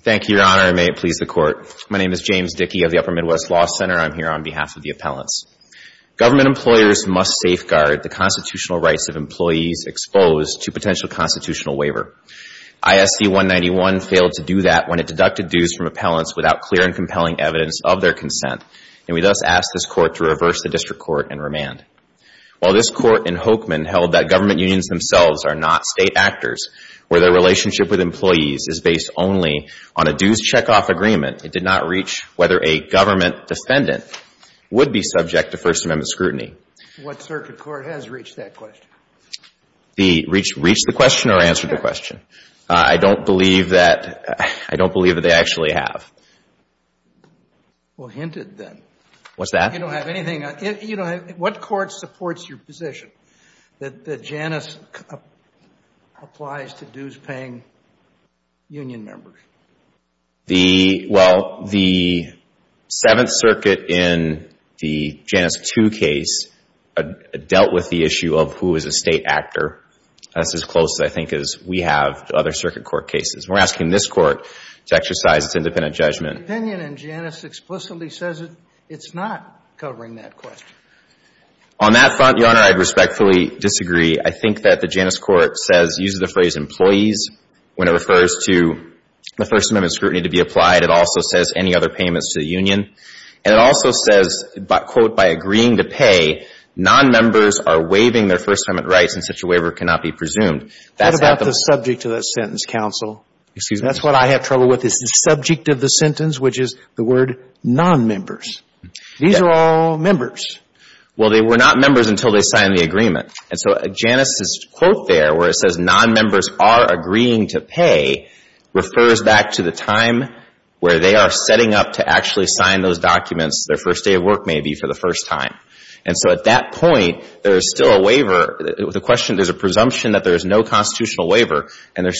Thank you, Your Honor, and may it please the Court. My name is James Dickey of the Upper Midwest Law Center, and I'm here on behalf of the appellants. Government employers must safeguard the constitutional rights of employees exposed to potential constitutional waiver. ISC 191 failed to do that when it deducted dues from appellants without clear and compelling evidence of their consent, and we thus ask this Court to reverse the district court and remand. While this Court in Hokeman held that government unions themselves are not state actors, where their relationship with employees is based only on a dues checkoff agreement, it did not reach whether a government defendant would be subject to First Amendment scrutiny. What circuit court has reached that question? Reached the question or answered the question? I don't believe that they actually have. Well, hint it then. What's that? You don't have anything. What court supports your position that Janus applies to dues-paying union members? Well, the Seventh Circuit in the Janus II case dealt with the issue of who is a state actor. That's as close, I think, as we have to other circuit court cases. We're asking this Court to exercise its independent judgment. But the opinion in Janus explicitly says it's not covering that question. On that front, Your Honor, I'd respectfully disagree. I think that the Janus Court says, uses the phrase employees when it refers to the First Amendment scrutiny to be applied. It also says any other payments to the union. And it also says, quote, by agreeing to pay, nonmembers are waiving their First Amendment rights, and such a waiver cannot be presumed. That's not the point. What about the subject of that sentence, counsel? Excuse me? That's what I have trouble with, is the subject of the sentence, which is the word nonmembers. These are all members. Well, they were not members until they signed the agreement. And so Janus' quote there, where it says, nonmembers are agreeing to pay, refers back to the time where they are setting up to actually sign those documents, their first day of work maybe, for the first time. And so at that point, there is still a waiver. The question, there's a presumption that there is no constitutional waiver, and there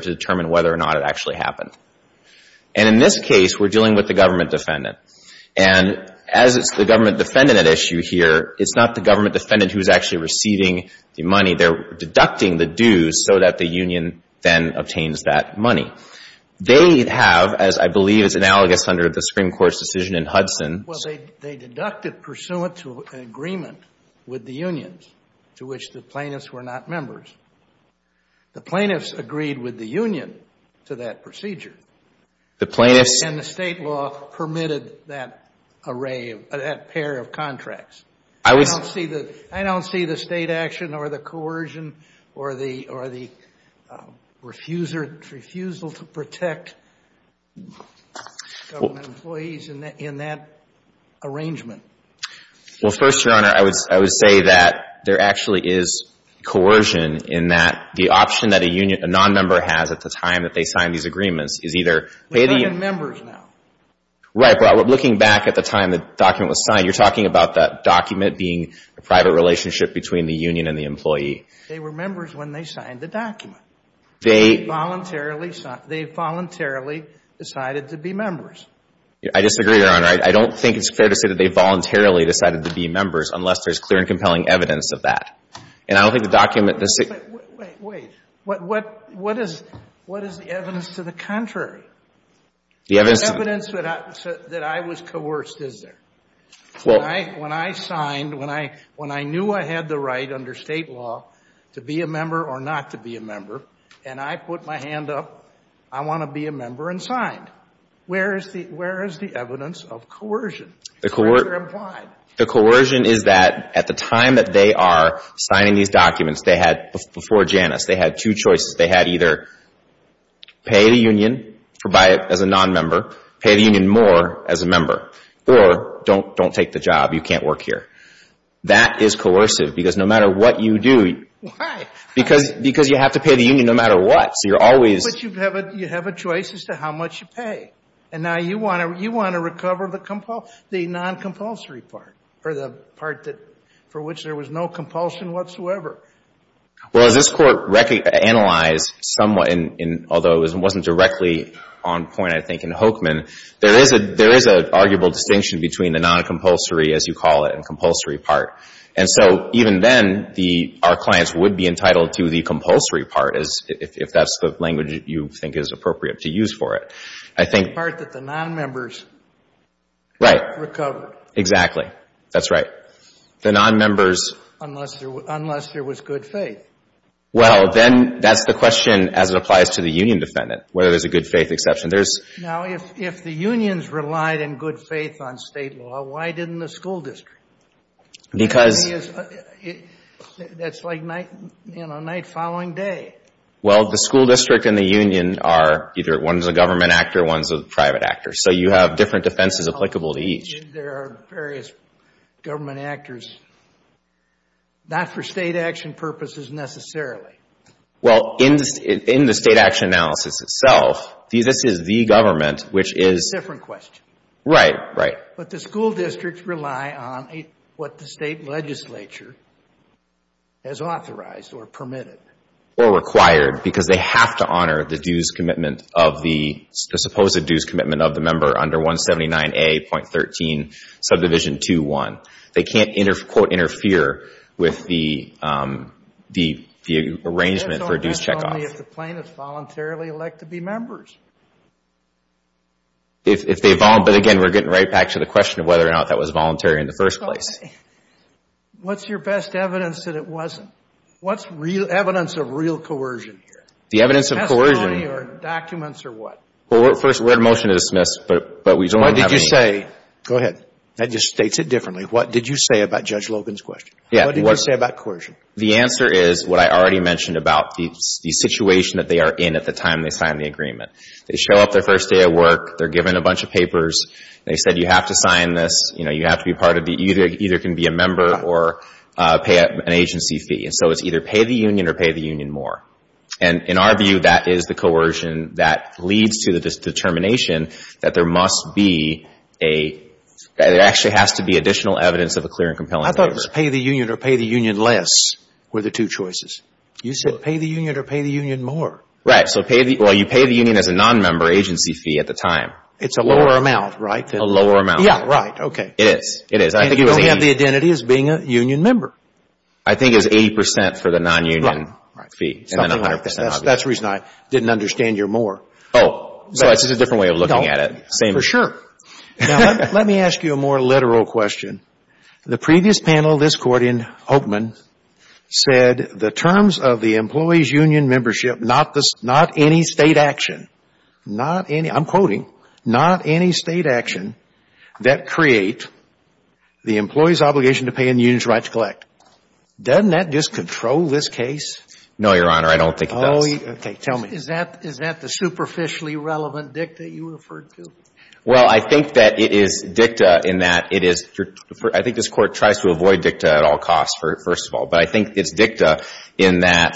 to determine whether or not it actually happened. And in this case, we're dealing with the government defendant. And as it's the government defendant at issue here, it's not the government defendant who's actually receiving the money. They're deducting the dues so that the union then obtains that money. They have, as I believe is analogous under the Supreme Court's decision in Hudson Well, they deducted pursuant to an agreement with the unions to which the plaintiffs were not members. The plaintiffs agreed with the union to that procedure. The plaintiffs And the state law permitted that array, that pair of contracts. I don't see the state action or the coercion or the refusal to protect government employees in that arrangement. Well, first, Your Honor, I would say that there actually is coercion in that the option that a nonmember has at the time that they sign these agreements is either They're not even members now. Right. But looking back at the time the document was signed, you're talking about that document being a private relationship between the union and the employee. They were members when they signed the document. They They voluntarily decided to be members. I disagree, Your Honor. I don't think it's fair to say that they voluntarily decided to be members unless there's clear and compelling evidence of that. And I don't think the document Wait. What is the evidence to the contrary? The evidence Evidence that I was coerced, is there? When I signed, when I knew I had the right under state law to be a member or not to be a member, and I put my hand up, I want to be a member and signed. Where is the evidence of coercion? The coercion is that at the time that they are signing these documents, they had before Janus, they had two choices. They had either pay the union as a nonmember, pay the union more as a member, or don't take the job. You can't work here. That is coercive because no matter what you do Why? Because you have to pay the union no matter what. So you're always But you have a choice as to how much you pay. And now you want to recover the noncompulsory part, or the part for which there was no compulsion whatsoever. Well, as this Court analyzed somewhat, although it wasn't directly on point, I think, in Hokeman, there is an arguable distinction between the noncompulsory, as you call it, and compulsory part. And so even then, our clients would be entitled to the compulsory part, if that's the type of language you think is appropriate to use for it. I think The part that the nonmembers recovered. Right. Exactly. That's right. The nonmembers Unless there was good faith. Well, then that's the question as it applies to the union defendant, whether there's a good faith exception. There's Now, if the unions relied in good faith on State law, why didn't the school district? Because That's like night following day. Well, the school district and the union are either one's a government actor, one's a private actor. So you have different defenses applicable to each. There are various government actors, not for State action purposes necessarily. Well, in the State action analysis itself, this is the government, which is That's a different question. Right, right. But the school districts rely on what the State legislature has authorized or permitted. Or required. Because they have to honor the dues commitment of the, the supposed dues commitment of the member under 179A.13, subdivision 2-1. They can't, quote, interfere with the arrangement for dues checkoff. That's only if the plaintiff voluntarily elected to be members. But again, we're getting right back to the question of whether or not that was voluntary in the first place. What's your best evidence that it wasn't? What's real evidence of real coercion here? The evidence of coercion Testimony or documents or what? Well, first, we're in a motion to dismiss, but we don't have any What did you say? Go ahead. That just states it differently. What did you say about Judge Logan's question? Yeah. What did you say about coercion? The answer is what I already mentioned about the situation that they are in at the time they signed the agreement. They show up their first day of work. They're given a bunch of papers. They said you have to sign this. You have to be part of it. You either can be a member or pay an agency fee. And so it's either pay the union or pay the union more. And in our view, that is the coercion that leads to the determination that there must be a there actually has to be additional evidence of a clear and compelling agreement. I thought it was pay the union or pay the union less were the two choices. You said pay the union or pay the union more. Right. So pay the union. Well, you pay the union as a nonmember agency fee at the time. It's a lower amount, right? A lower amount. Yeah. Right. Okay. It is. It is. And you only have the identity as being a union member. I think it's 80 percent for the nonunion fee. Right. Right. Something like that. That's the reason I didn't understand your more. Oh. So it's just a different way of looking at it. No. For sure. Now, let me ask you a more literal question. The previous panel of this Court in Oakman said the terms of the employee's union membership, not any State action, not any, I'm quoting, not any State action that create the employee's obligation to pay a union's right to collect. Doesn't that just control this case? No, Your Honor. I don't think it does. Okay. Tell me. Is that the superficially relevant dicta you referred to? Well, I think that it is dicta in that it is your – I think this Court tries to avoid dicta at all costs, first of all. But I think it's dicta in that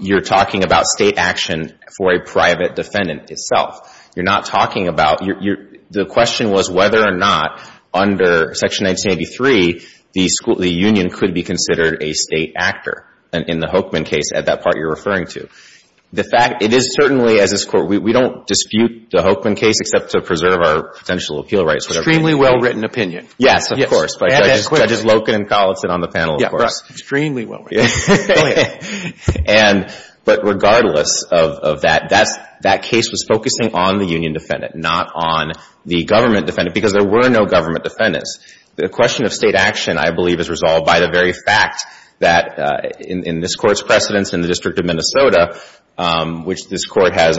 you're talking about State action for a private defendant itself. You're not talking about – the question was whether or not under Section 1983, the union could be considered a State actor in the Hoekman case at that part you're referring to. The fact – it is certainly, as this Court – we don't dispute the Hoekman case except to preserve our potential appeal rights. Extremely well-written opinion. Yes. Yes. Of course. By Judges Loken and Collinson on the panel, of course. Extremely well-written. And – but regardless of that, that case was focusing on the union defendant, not on the government defendant, because there were no government defendants. The question of State action, I believe, is resolved by the very fact that in this Court's precedence in the District of Minnesota, which this Court has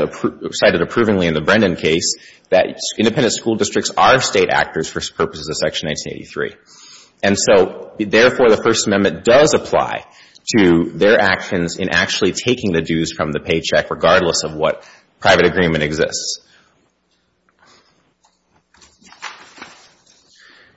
cited approvingly in the Brendan case, that independent school districts are State actors for purposes of Section 1983. And so, therefore, the First Amendment does apply to their actions in actually taking the dues from the paycheck, regardless of what private agreement exists.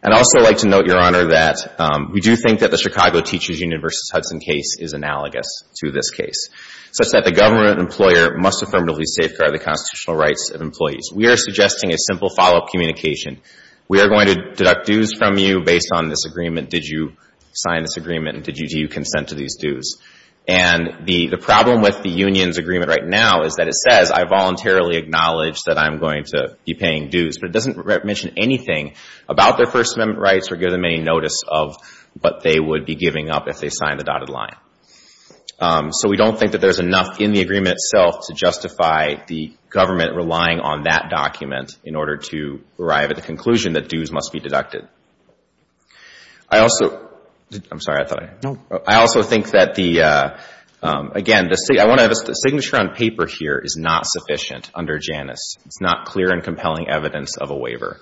And I'd also like to note, Your Honor, that we do think that the Chicago Teachers Union v. Hudson case is analogous to this case, such that the government employer must affirmatively safeguard the constitutional rights of employees. We are suggesting a simple follow-up communication. We are going to deduct dues from you based on this agreement. Did you sign this agreement? And did you consent to these dues? And the problem with the union's agreement right now is that it says, I voluntarily acknowledge that I'm going to be paying dues. But it doesn't mention anything about their First Amendment rights or give them any notice of what they would be giving up if they signed the dotted line. So we don't think that there's enough in the agreement itself to justify the government relying on that document in order to arrive at the conclusion that dues must be deducted. I also — I'm sorry, I thought I — No. I also think that the — again, the signature on paper here is not sufficient under Janus. It's not clear and compelling evidence of a waiver.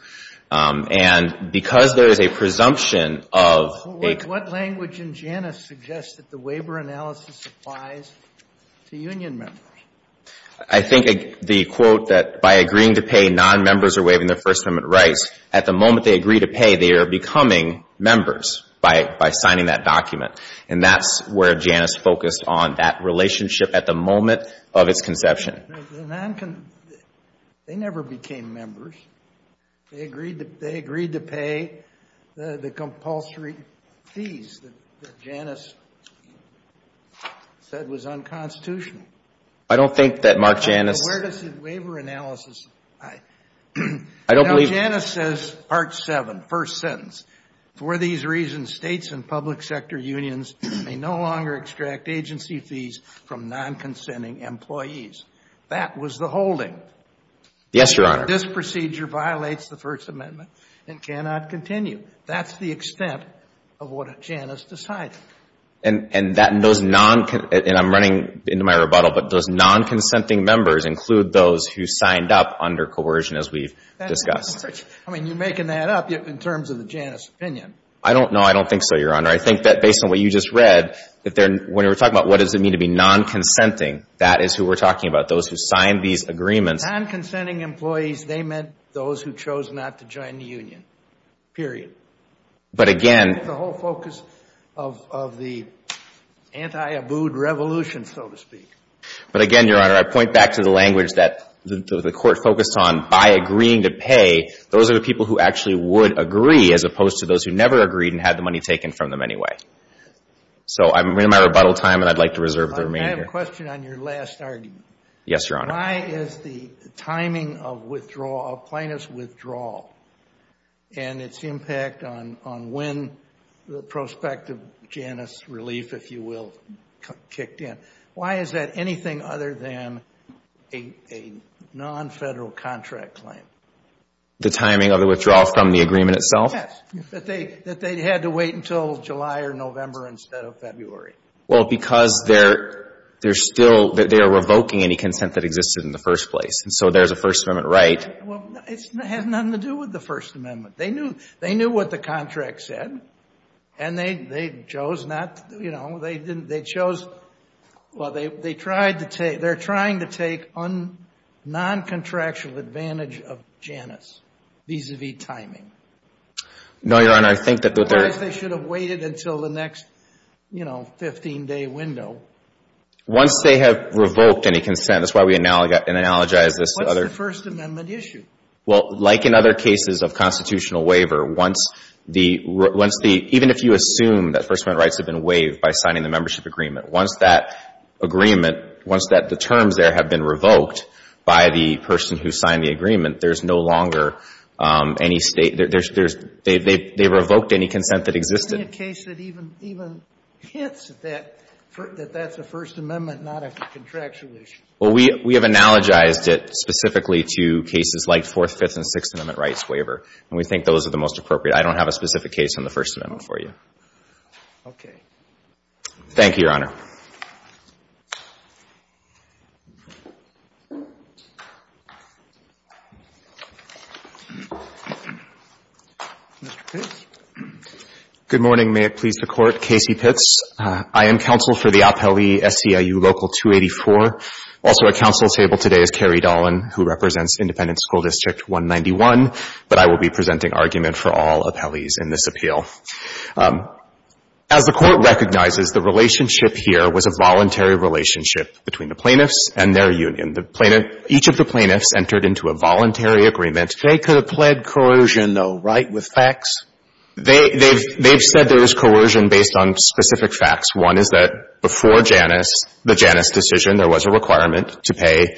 And because there is a presumption of a — What language in Janus suggests that the waiver analysis applies to union members? I think the quote that by agreeing to pay, nonmembers are waiving their First Amendment rights, at the moment they agree to pay, they are becoming members by signing that document. And that's where Janus focused on, that relationship at the moment of its conception. The non — they never became members. They agreed to pay the compulsory fees that Janus said was unconstitutional. I don't think that Mark Janus — So where does the waiver analysis lie? I don't believe — Now, Janus says, Part 7, first sentence, for these reasons, states and public sector unions may no longer extract agency fees from non-consenting employees. That was the holding. Yes, Your Honor. This procedure violates the First Amendment and cannot continue. That's the extent of what Janus decided. And those non — and I'm running into my rebuttal, but does non-consenting members include those who signed up under coercion, as we've discussed? I mean, you're making that up in terms of the Janus opinion. I don't know. I don't think so, Your Honor. I think that based on what you just read, when we're talking about what does it mean to be non-consenting, that is who we're talking about, those who signed these agreements. Non-consenting employees, they meant those who chose not to join the union, period. But again — That's the whole focus of the anti-Abood revolution, so to speak. But again, Your Honor, I point back to the language that the Court focused on. By agreeing to pay, those are the people who actually would agree, as opposed to those who never agreed and had the money taken from them anyway. So I'm running out of rebuttal time, and I'd like to reserve the remainder. I have a question on your last argument. Yes, Your Honor. Why is the timing of withdrawal, of plaintiff's withdrawal, and its impact on when the prospect of Janus relief, if you will, kicked in, why is that anything other than a non-federal contract claim? The timing of the withdrawal from the agreement itself? Yes, that they had to wait until July or November instead of February. Well, because they're still — they are revoking any consent that existed in the first place, and so there's a First Amendment right. Well, it has nothing to do with the First Amendment. They knew what the contract said, and they chose not to, you know, they chose — well, they're trying to take non-contractual advantage of Janus vis-à-vis timing. No, Your Honor, I think that they're — Once they have revoked any consent, that's why we analogize this to other — What's the First Amendment issue? Well, like in other cases of constitutional waiver, once the — even if you assume that First Amendment rights have been waived by signing the membership agreement, once that agreement — once the terms there have been revoked by the person who signed the agreement, there's no longer any — they revoked any consent that existed. Give me a case that even hints that that's a First Amendment, not a contractual issue. Well, we have analogized it specifically to cases like Fourth, Fifth, and Sixth Amendment rights waiver, and we think those are the most appropriate. I don't have a specific case on the First Amendment for you. Okay. Thank you, Your Honor. Mr. Pitts? Good morning. May it please the Court. Casey Pitts. I am counsel for the appellee SCIU Local 284. Also at counsel's table today is Carrie Dolan, who represents Independent School District 191, but I will be presenting argument for all appellees in this appeal. As the Court recognizes, the relationship here was a voluntary relationship between the plaintiffs and their union. The plaintiff — each of the plaintiffs entered into a voluntary agreement. They could have pled coercion, though, right, with facts? They've said there was coercion based on specific facts. One is that before Janus, the Janus decision, there was a requirement to pay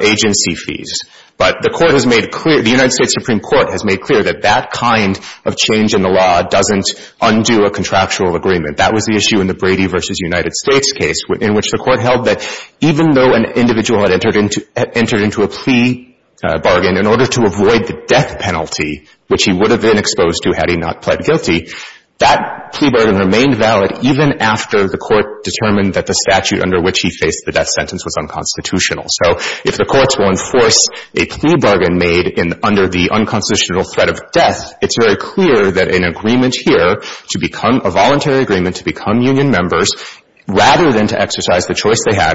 agency fees. But the Court has made clear — the United States Supreme Court has made clear that that kind of change in the law doesn't undo a contractual agreement. That was the issue in the Brady v. United States case in which the Court held that even though an individual had entered into a plea bargain in order to avoid the death penalty, which he would have been exposed to had he not pled guilty, that plea bargain remained valid even after the Court determined that the statute under which he faced the death sentence was unconstitutional. So if the courts will enforce a plea bargain made under the unconstitutional threat of death, it's very clear that an agreement here to become — a voluntary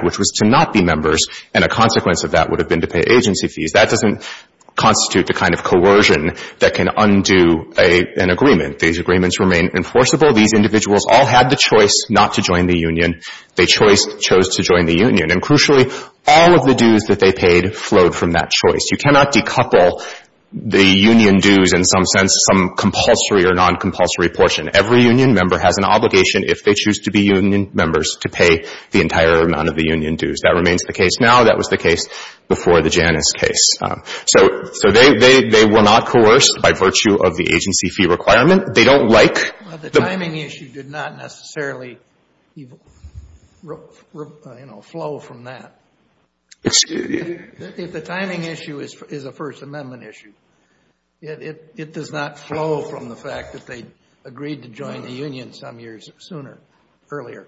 which was to not be members, and a consequence of that would have been to pay agency fees. That doesn't constitute the kind of coercion that can undo an agreement. These agreements remain enforceable. These individuals all had the choice not to join the union. They chose — chose to join the union. And crucially, all of the dues that they paid flowed from that choice. You cannot decouple the union dues in some sense, some compulsory or noncompulsory portion. Every union member has an obligation, if they choose to be union members, to pay the entire amount of the union dues. That remains the case now. That was the case before the Janus case. So they were not coerced by virtue of the agency fee requirement. They don't like the — Well, the timing issue did not necessarily, you know, flow from that. Excuse me? If the timing issue is a First Amendment issue, it does not flow from the fact that they agreed to join the union some years sooner, earlier.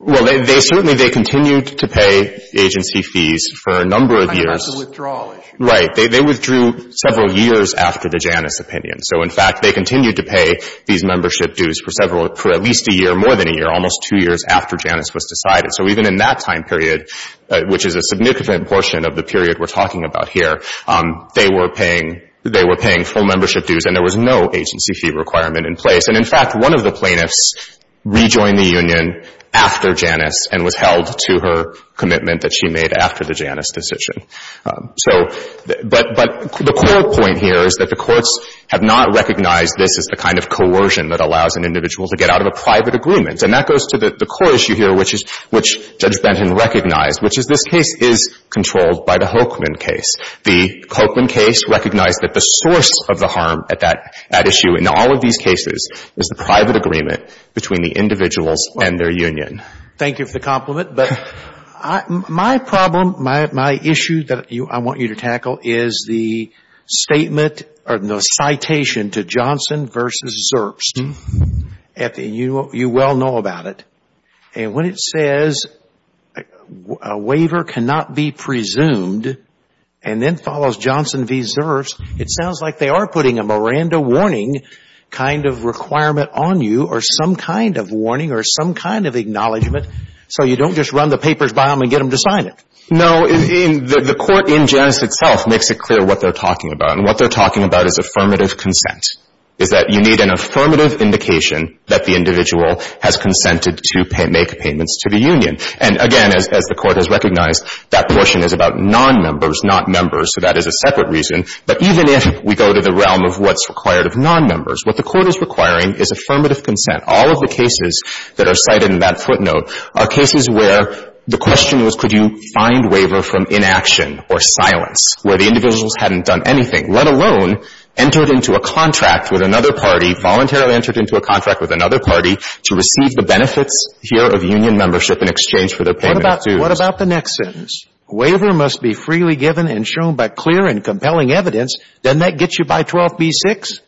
Well, they certainly — they continued to pay agency fees for a number of years. On the withdrawal issue. Right. They withdrew several years after the Janus opinion. So, in fact, they continued to pay these membership dues for several — for at least a year, more than a year, almost two years after Janus was decided. So even in that time period, which is a significant portion of the period we're talking about here, they were paying — they were paying full membership dues, and there was no agency fee requirement in place. And, in fact, one of the plaintiffs rejoined the union after Janus and was held to her commitment that she made after the Janus decision. So — but the core point here is that the courts have not recognized this as the kind of coercion that allows an individual to get out of a private agreement. And that goes to the core issue here, which is — which Judge Benton recognized, which is this case is controlled by the Hochman case. The Hochman case recognized that the source of the harm at that issue in all of these cases is the private agreement between the individuals and their union. Thank you for the compliment. But my problem, my issue that I want you to tackle is the statement — or the citation to Johnson v. Zurst. You well know about it. And when it says, a waiver cannot be presumed, and then follows Johnson v. Zurst, it sounds like they are putting a Miranda warning kind of requirement on you, or some kind of warning, or some kind of acknowledgement, so you don't just run the papers by them and get them to sign it. No. The court in Janus itself makes it clear what they're talking about. And what they're talking about is affirmative consent, is that you need an And, again, as the Court has recognized, that portion is about nonmembers, not members, so that is a separate reason. But even if we go to the realm of what's required of nonmembers, what the Court is requiring is affirmative consent. All of the cases that are cited in that footnote are cases where the question was, could you find waiver from inaction or silence, where the individuals hadn't done anything, let alone entered into a contract with another party, voluntarily entered into a contract with another party to receive the benefits here of union membership in exchange for their payment of dues. What about the next sentence? Waiver must be freely given and shown by clear and compelling evidence. Doesn't that get you by 12b-6?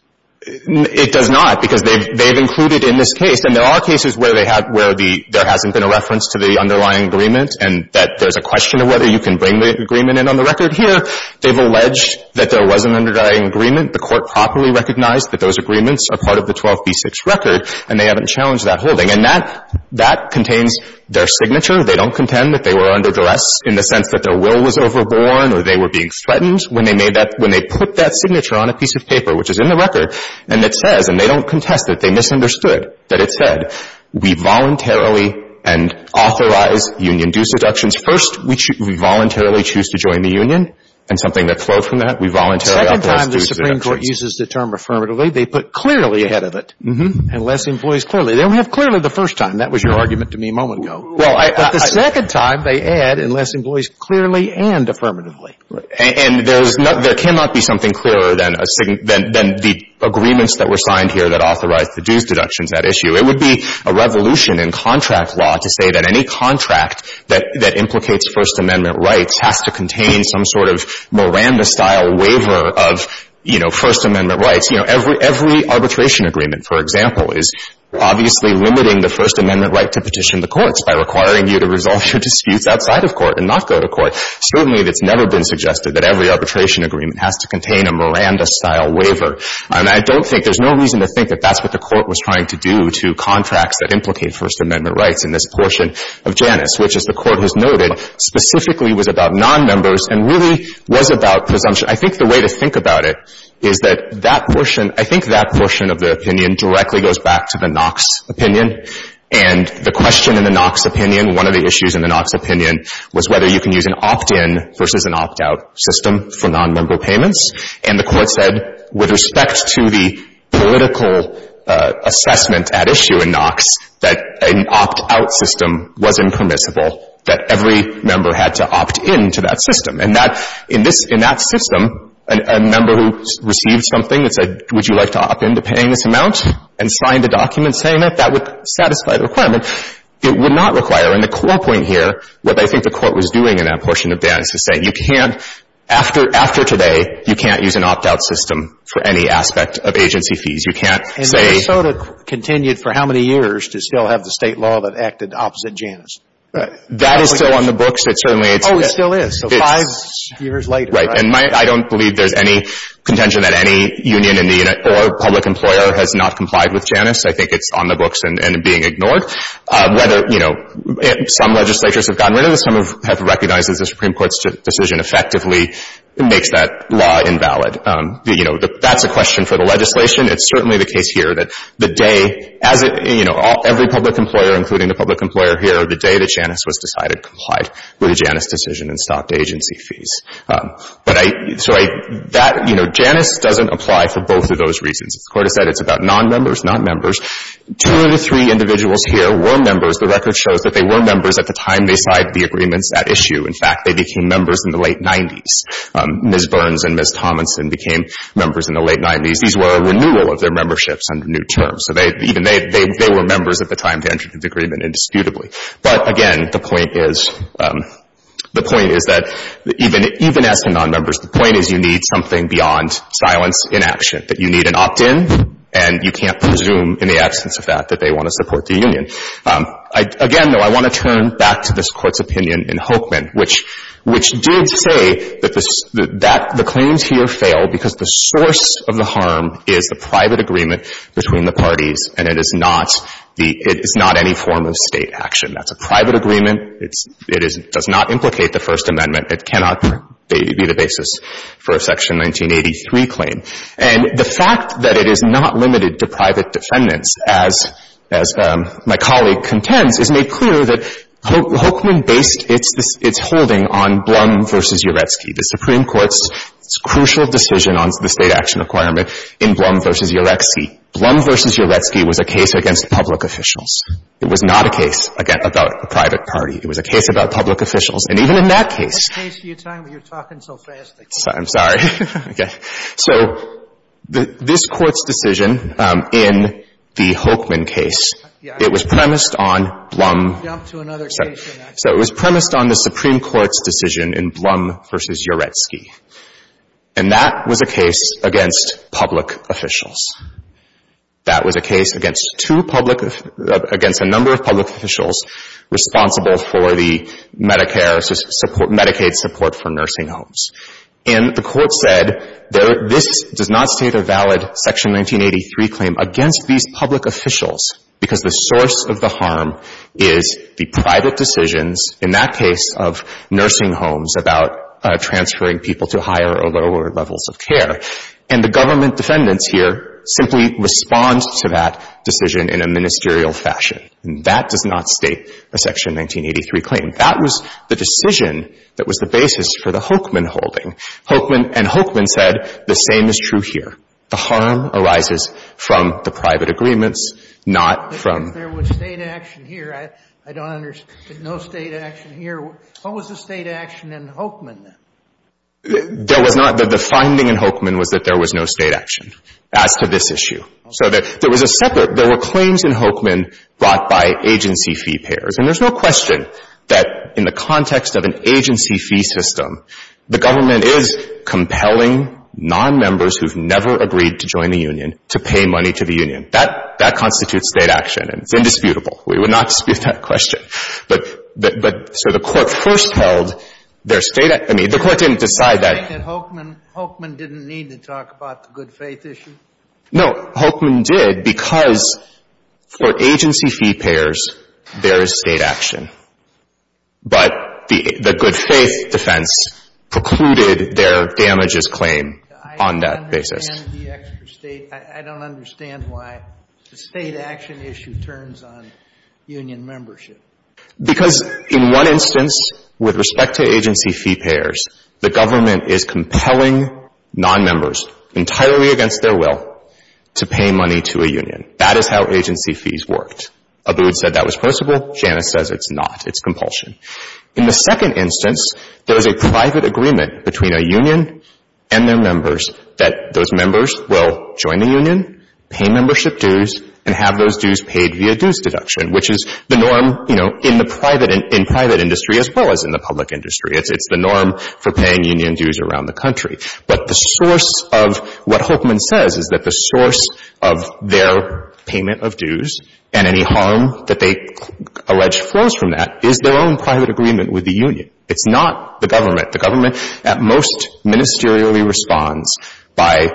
It does not, because they've included in this case, and there are cases where they have, where there hasn't been a reference to the underlying agreement, and that there's a question of whether you can bring the agreement in on the record. Here, they've alleged that there was an underlying agreement. The Court properly recognized that those agreements are part of the 12b-6 record, and they haven't challenged that holding. And that, that contains their signature. They don't contend that they were under duress in the sense that their will was overborn or they were being threatened. When they made that, when they put that signature on a piece of paper, which is in the record, and it says, and they don't contest it, they misunderstood, that it said we voluntarily and authorize union due seductions. First, we voluntarily choose to join the union, and something that flowed from that, we voluntarily authorize due seductions. The second time the Supreme Court uses the term affirmatively, they put clearly ahead of it, and less employees clearly. They don't have clearly the first time. That was your argument to me a moment ago. Well, I — But the second time, they add, and less employees clearly and affirmatively. Right. And there's not, there cannot be something clearer than a, than the agreements that were signed here that authorized the dues deductions, that issue. It would be a revolution in contract law to say that any contract that, that implicates First Amendment rights has to contain some sort of Miranda-style waiver of, you know, First Amendment rights. You know, every, every arbitration agreement, for example, is obviously limiting the First Amendment right to petition the courts by requiring you to resolve your disputes outside of court and not go to court. Certainly, it's never been suggested that every arbitration agreement has to contain a Miranda-style waiver. And I don't think, there's no reason to think that that's what the Court was trying to do to contracts that implicate First Amendment rights in this portion of Janus, which, as the Court has noted, specifically was about nonmembers and really was about presumption. I think the way to think about it is that that portion, I think that portion of the opinion directly goes back to the Knox opinion. And the question in the Knox opinion, one of the issues in the Knox opinion, was whether you can use an opt-in versus an opt-out system for nonmember payments. And the Court said, with respect to the political assessment at issue in Knox, that an opt-out system was impermissible, that every member had to opt-in to that system. And that, in this, in that system, a member who received something and said, would you like to opt-in to paying this amount and signed a document saying that, that would satisfy the requirement. It would not require. And the core point here, what I think the Court was doing in that portion of Janus is saying, you can't, after today, you can't use an opt-out system for any aspect of agency fees. You can't say — It's a state law that acted opposite Janus. Right. That is still on the books. It certainly is. Oh, it still is. So five years later. Right. And I don't believe there's any contention that any union or public employer has not complied with Janus. I think it's on the books and being ignored. Whether, you know, some legislatures have gotten rid of it, some have recognized that the Supreme Court's decision effectively makes that law invalid. You know, that's a question for the legislation. It's certainly the case here that the day, as it, you know, every public employer, including the public employer here, the day that Janus was decided complied with a Janus decision and stopped agency fees. But I — so I — that, you know, Janus doesn't apply for both of those reasons. As the Court has said, it's about nonmembers, not members. Two of the three individuals here were members. The record shows that they were members at the time they signed the agreements at issue. In fact, they became members in the late 90s. Ms. Burns and Ms. Tominson became members in the late 90s. These were a renewal of their memberships under new terms. So they — even they — they were members at the time to enter into the agreement indisputably. But again, the point is — the point is that even — even asking nonmembers, the point is you need something beyond silence in action, that you need an opt-in, and you can't presume in the absence of that that they want to support the union. Again, though, I want to turn back to this Court's opinion in Hokeman, which — which did say that the — that the claims here fail because the source of the harm is the private agreement between the parties, and it is not the — it is not any form of State action. That's a private agreement. It's — it is — does not implicate the First Amendment. It cannot be the basis for a Section 1983 claim. And the fact that it is not limited to private defendants, as — as my colleague contends, is made clear that Hokeman based its — its holding on Blum v. Uletsky, the Supreme Court's crucial decision on the State action requirement in Blum v. Uletsky. Blum v. Uletsky was a case against public officials. It was not a case about a private party. It was a case about public officials. And even in that case — Sotomayor, you're talking so fast. I'm sorry. Okay. So this Court's decision in the Hokeman case, it was premised on Blum — Jump to another case. So it was premised on the Supreme Court's decision in Blum v. Uletsky, and that was a case against public officials. That was a case against two public — against a number of public officials responsible for the Medicare — Medicaid support for nursing homes. And the Court said this does not state a valid Section 1983 claim against these public officials because the source of the harm is the private decisions, in that case of nursing homes, about transferring people to higher or lower levels of care. And the government defendants here simply respond to that decision in a ministerial fashion. And that does not state a Section 1983 claim. That was the decision that was the basis for the Hokeman holding. Hokeman — and Hokeman said the same is true here. The harm arises from the private agreements, not from — There was State action here. I don't understand. No State action here. What was the State action in Hokeman, then? There was not — the finding in Hokeman was that there was no State action as to this issue. So there was a separate — there were claims in Hokeman brought by agency fee payers. And there's no question that in the context of an agency fee system, the government is compelling nonmembers who've never agreed to join the union to pay money to the union. That — that constitutes State action. And it's indisputable. We would not dispute that question. But — but, sir, the Court first held there's State — I mean, the Court didn't decide that — You're saying that Hokeman — Hokeman didn't need to talk about the good-faith issue? No. Hokeman did because for agency fee payers, there is State action. But the — the good-faith defense precluded their damages claim on that basis. I understand the extra State. I don't understand why the State action issue turns on union membership. Because in one instance, with respect to agency fee payers, the government is compelling nonmembers, entirely against their will, to pay money to a union. That is how agency fees worked. Abood said that was possible. Janus says it's not. It's compulsion. In the second instance, there is a private agreement between a union and their members that those members will join the union, pay membership dues, and have those dues paid via dues deduction, which is the norm, you know, in the private — in private industry as well as in the public industry. It's the norm for paying union dues around the country. But the source of what Hokeman says is that the source of their payment of dues and any harm that they allege flows from that is their own private agreement with the union. It's not the government. The government, at most, ministerially responds by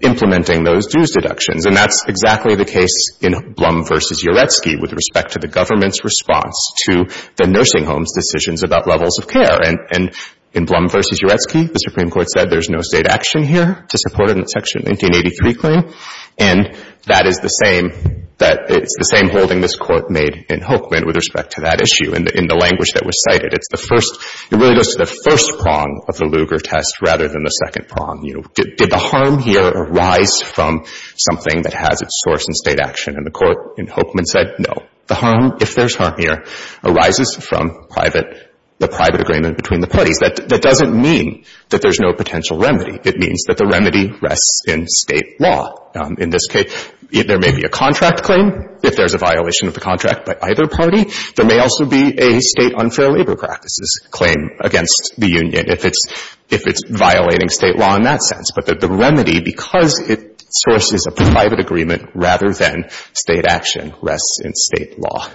implementing those dues deductions. And that's exactly the case in Blum v. Uretsky with respect to the government's response to the nursing home's decisions about levels of care. And in Blum v. Uretsky, the Supreme Court said there's no State action here to support it in the Section 1983 claim. And that is the same — it's the same holding this Court made in Hokeman with respect to that issue in the language that was cited. It's the first — it really goes to the first prong of the Lugar test rather than the second prong. You know, did the harm here arise from something that has its source in State action? And the Court in Hokeman said no. The harm, if there's harm here, arises from private — the private agreement between the parties. That doesn't mean that there's no potential remedy. It means that the remedy rests in State law. In this case, there may be a contract claim if there's a violation of the contract by either party. There may also be a State unfair labor practices claim against the union if it's — if it's violating State law in that sense. But the remedy, because it sources a private agreement rather than State action, rests in State law.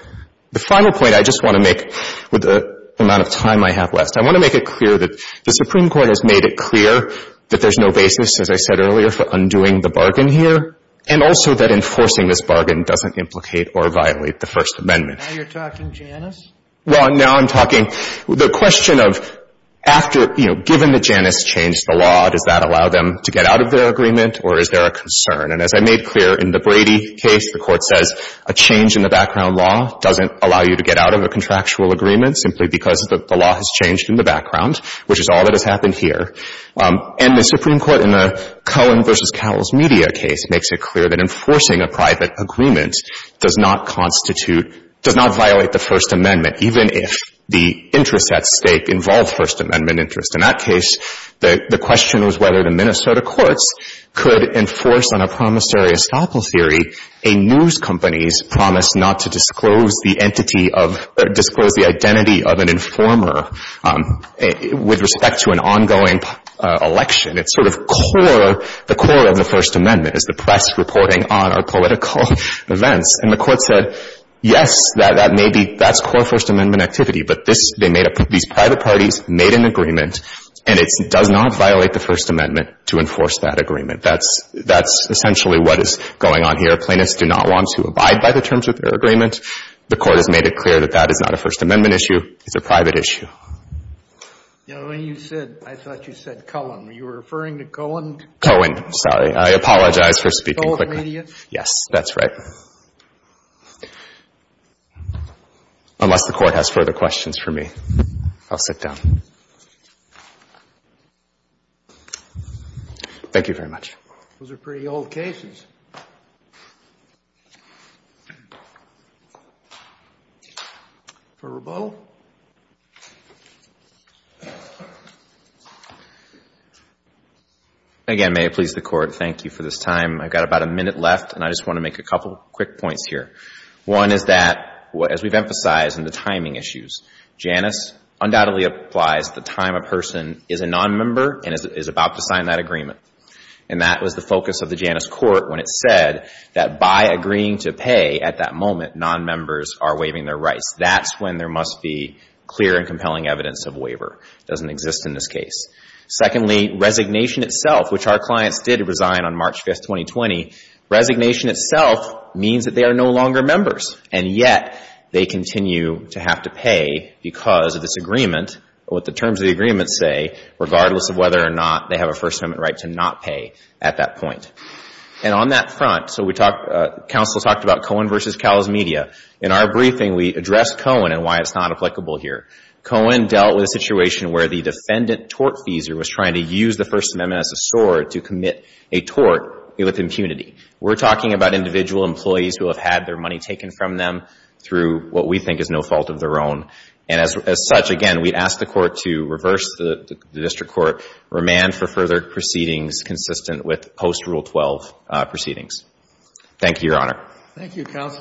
The final point I just want to make with the amount of time I have left, I want to make it clear that the Supreme Court has made it clear that there's no basis, as I said earlier, for undoing the bargain here, and also that enforcing this bargain doesn't implicate or violate the First Amendment. Now you're talking Janus? Well, now I'm talking — the question of after, you know, given that Janus changed the law, does that allow them to get out of their agreement, or is there a concern? And as I made clear in the Brady case, the Court says a change in the background law doesn't allow you to get out of a contractual agreement simply because the law has changed in the background, which is all that has happened here. And the Supreme Court in the Cohen v. Cowles media case makes it clear that enforcing a private agreement does not constitute — does not violate the First Amendment, even if the interests at stake involve First Amendment interests. In that case, the question was whether the Minnesota courts could enforce on a promissory estoppel theory a news company's promise not to disclose the entity of — disclose the identity of an informer with respect to an ongoing election. It's sort of core — the core of the First Amendment is the press reporting on our political events. And the Court said, yes, that may be — that's core First Amendment activity, but this — they made a — these private parties made an agreement, and it does not violate the First Amendment to enforce that agreement. That's — that's essentially what is going on here. Plaintiffs do not want to abide by the terms of their agreement. The Court has made it clear that that is not a First Amendment issue. It's a private issue. You know, when you said — I thought you said Cohen. Were you referring to Cohen? Cohen, sorry. I apologize for speaking quickly. Cohen Media? Yes, that's right. Unless the Court has further questions for me, I'll sit down. Thank you very much. Those are pretty old cases. For Rabeau? Again, may it please the Court, thank you for this time. I've got about a minute left, and I just want to make a couple quick points here. One is that, as we've emphasized in the timing issues, Janus undoubtedly applies the time a person is a nonmember and is about to sign that agreement. And that was the focus of the Janus Court when it said that by agreeing to pay at that moment, nonmembers are waiving their rights. That's when there must be clear and compelling evidence of waiver. It doesn't exist in this case. Secondly, resignation itself, which our clients did resign on March 5, 2020, resignation itself means that they are no longer members, and yet they continue to have to pay because of this agreement, what the terms of the agreement say, regardless of whether or not they have a First Amendment right to not pay at that point. And on that front, so we talked — counsel talked about Cohen v. Cal's Media. In our briefing, we addressed Cohen and why it's not applicable here. Cohen dealt with a situation where the defendant tortfeasor was trying to use the First Amendment as a sword to commit a tort with impunity. We're talking about individual employees who have had their money taken from them through what we think is no fault of their own. And as such, again, we'd ask the Court to reverse the district court remand for further proceedings consistent with post-Rule 12 proceedings. Thank you, Your Honor. Thank you, counsel.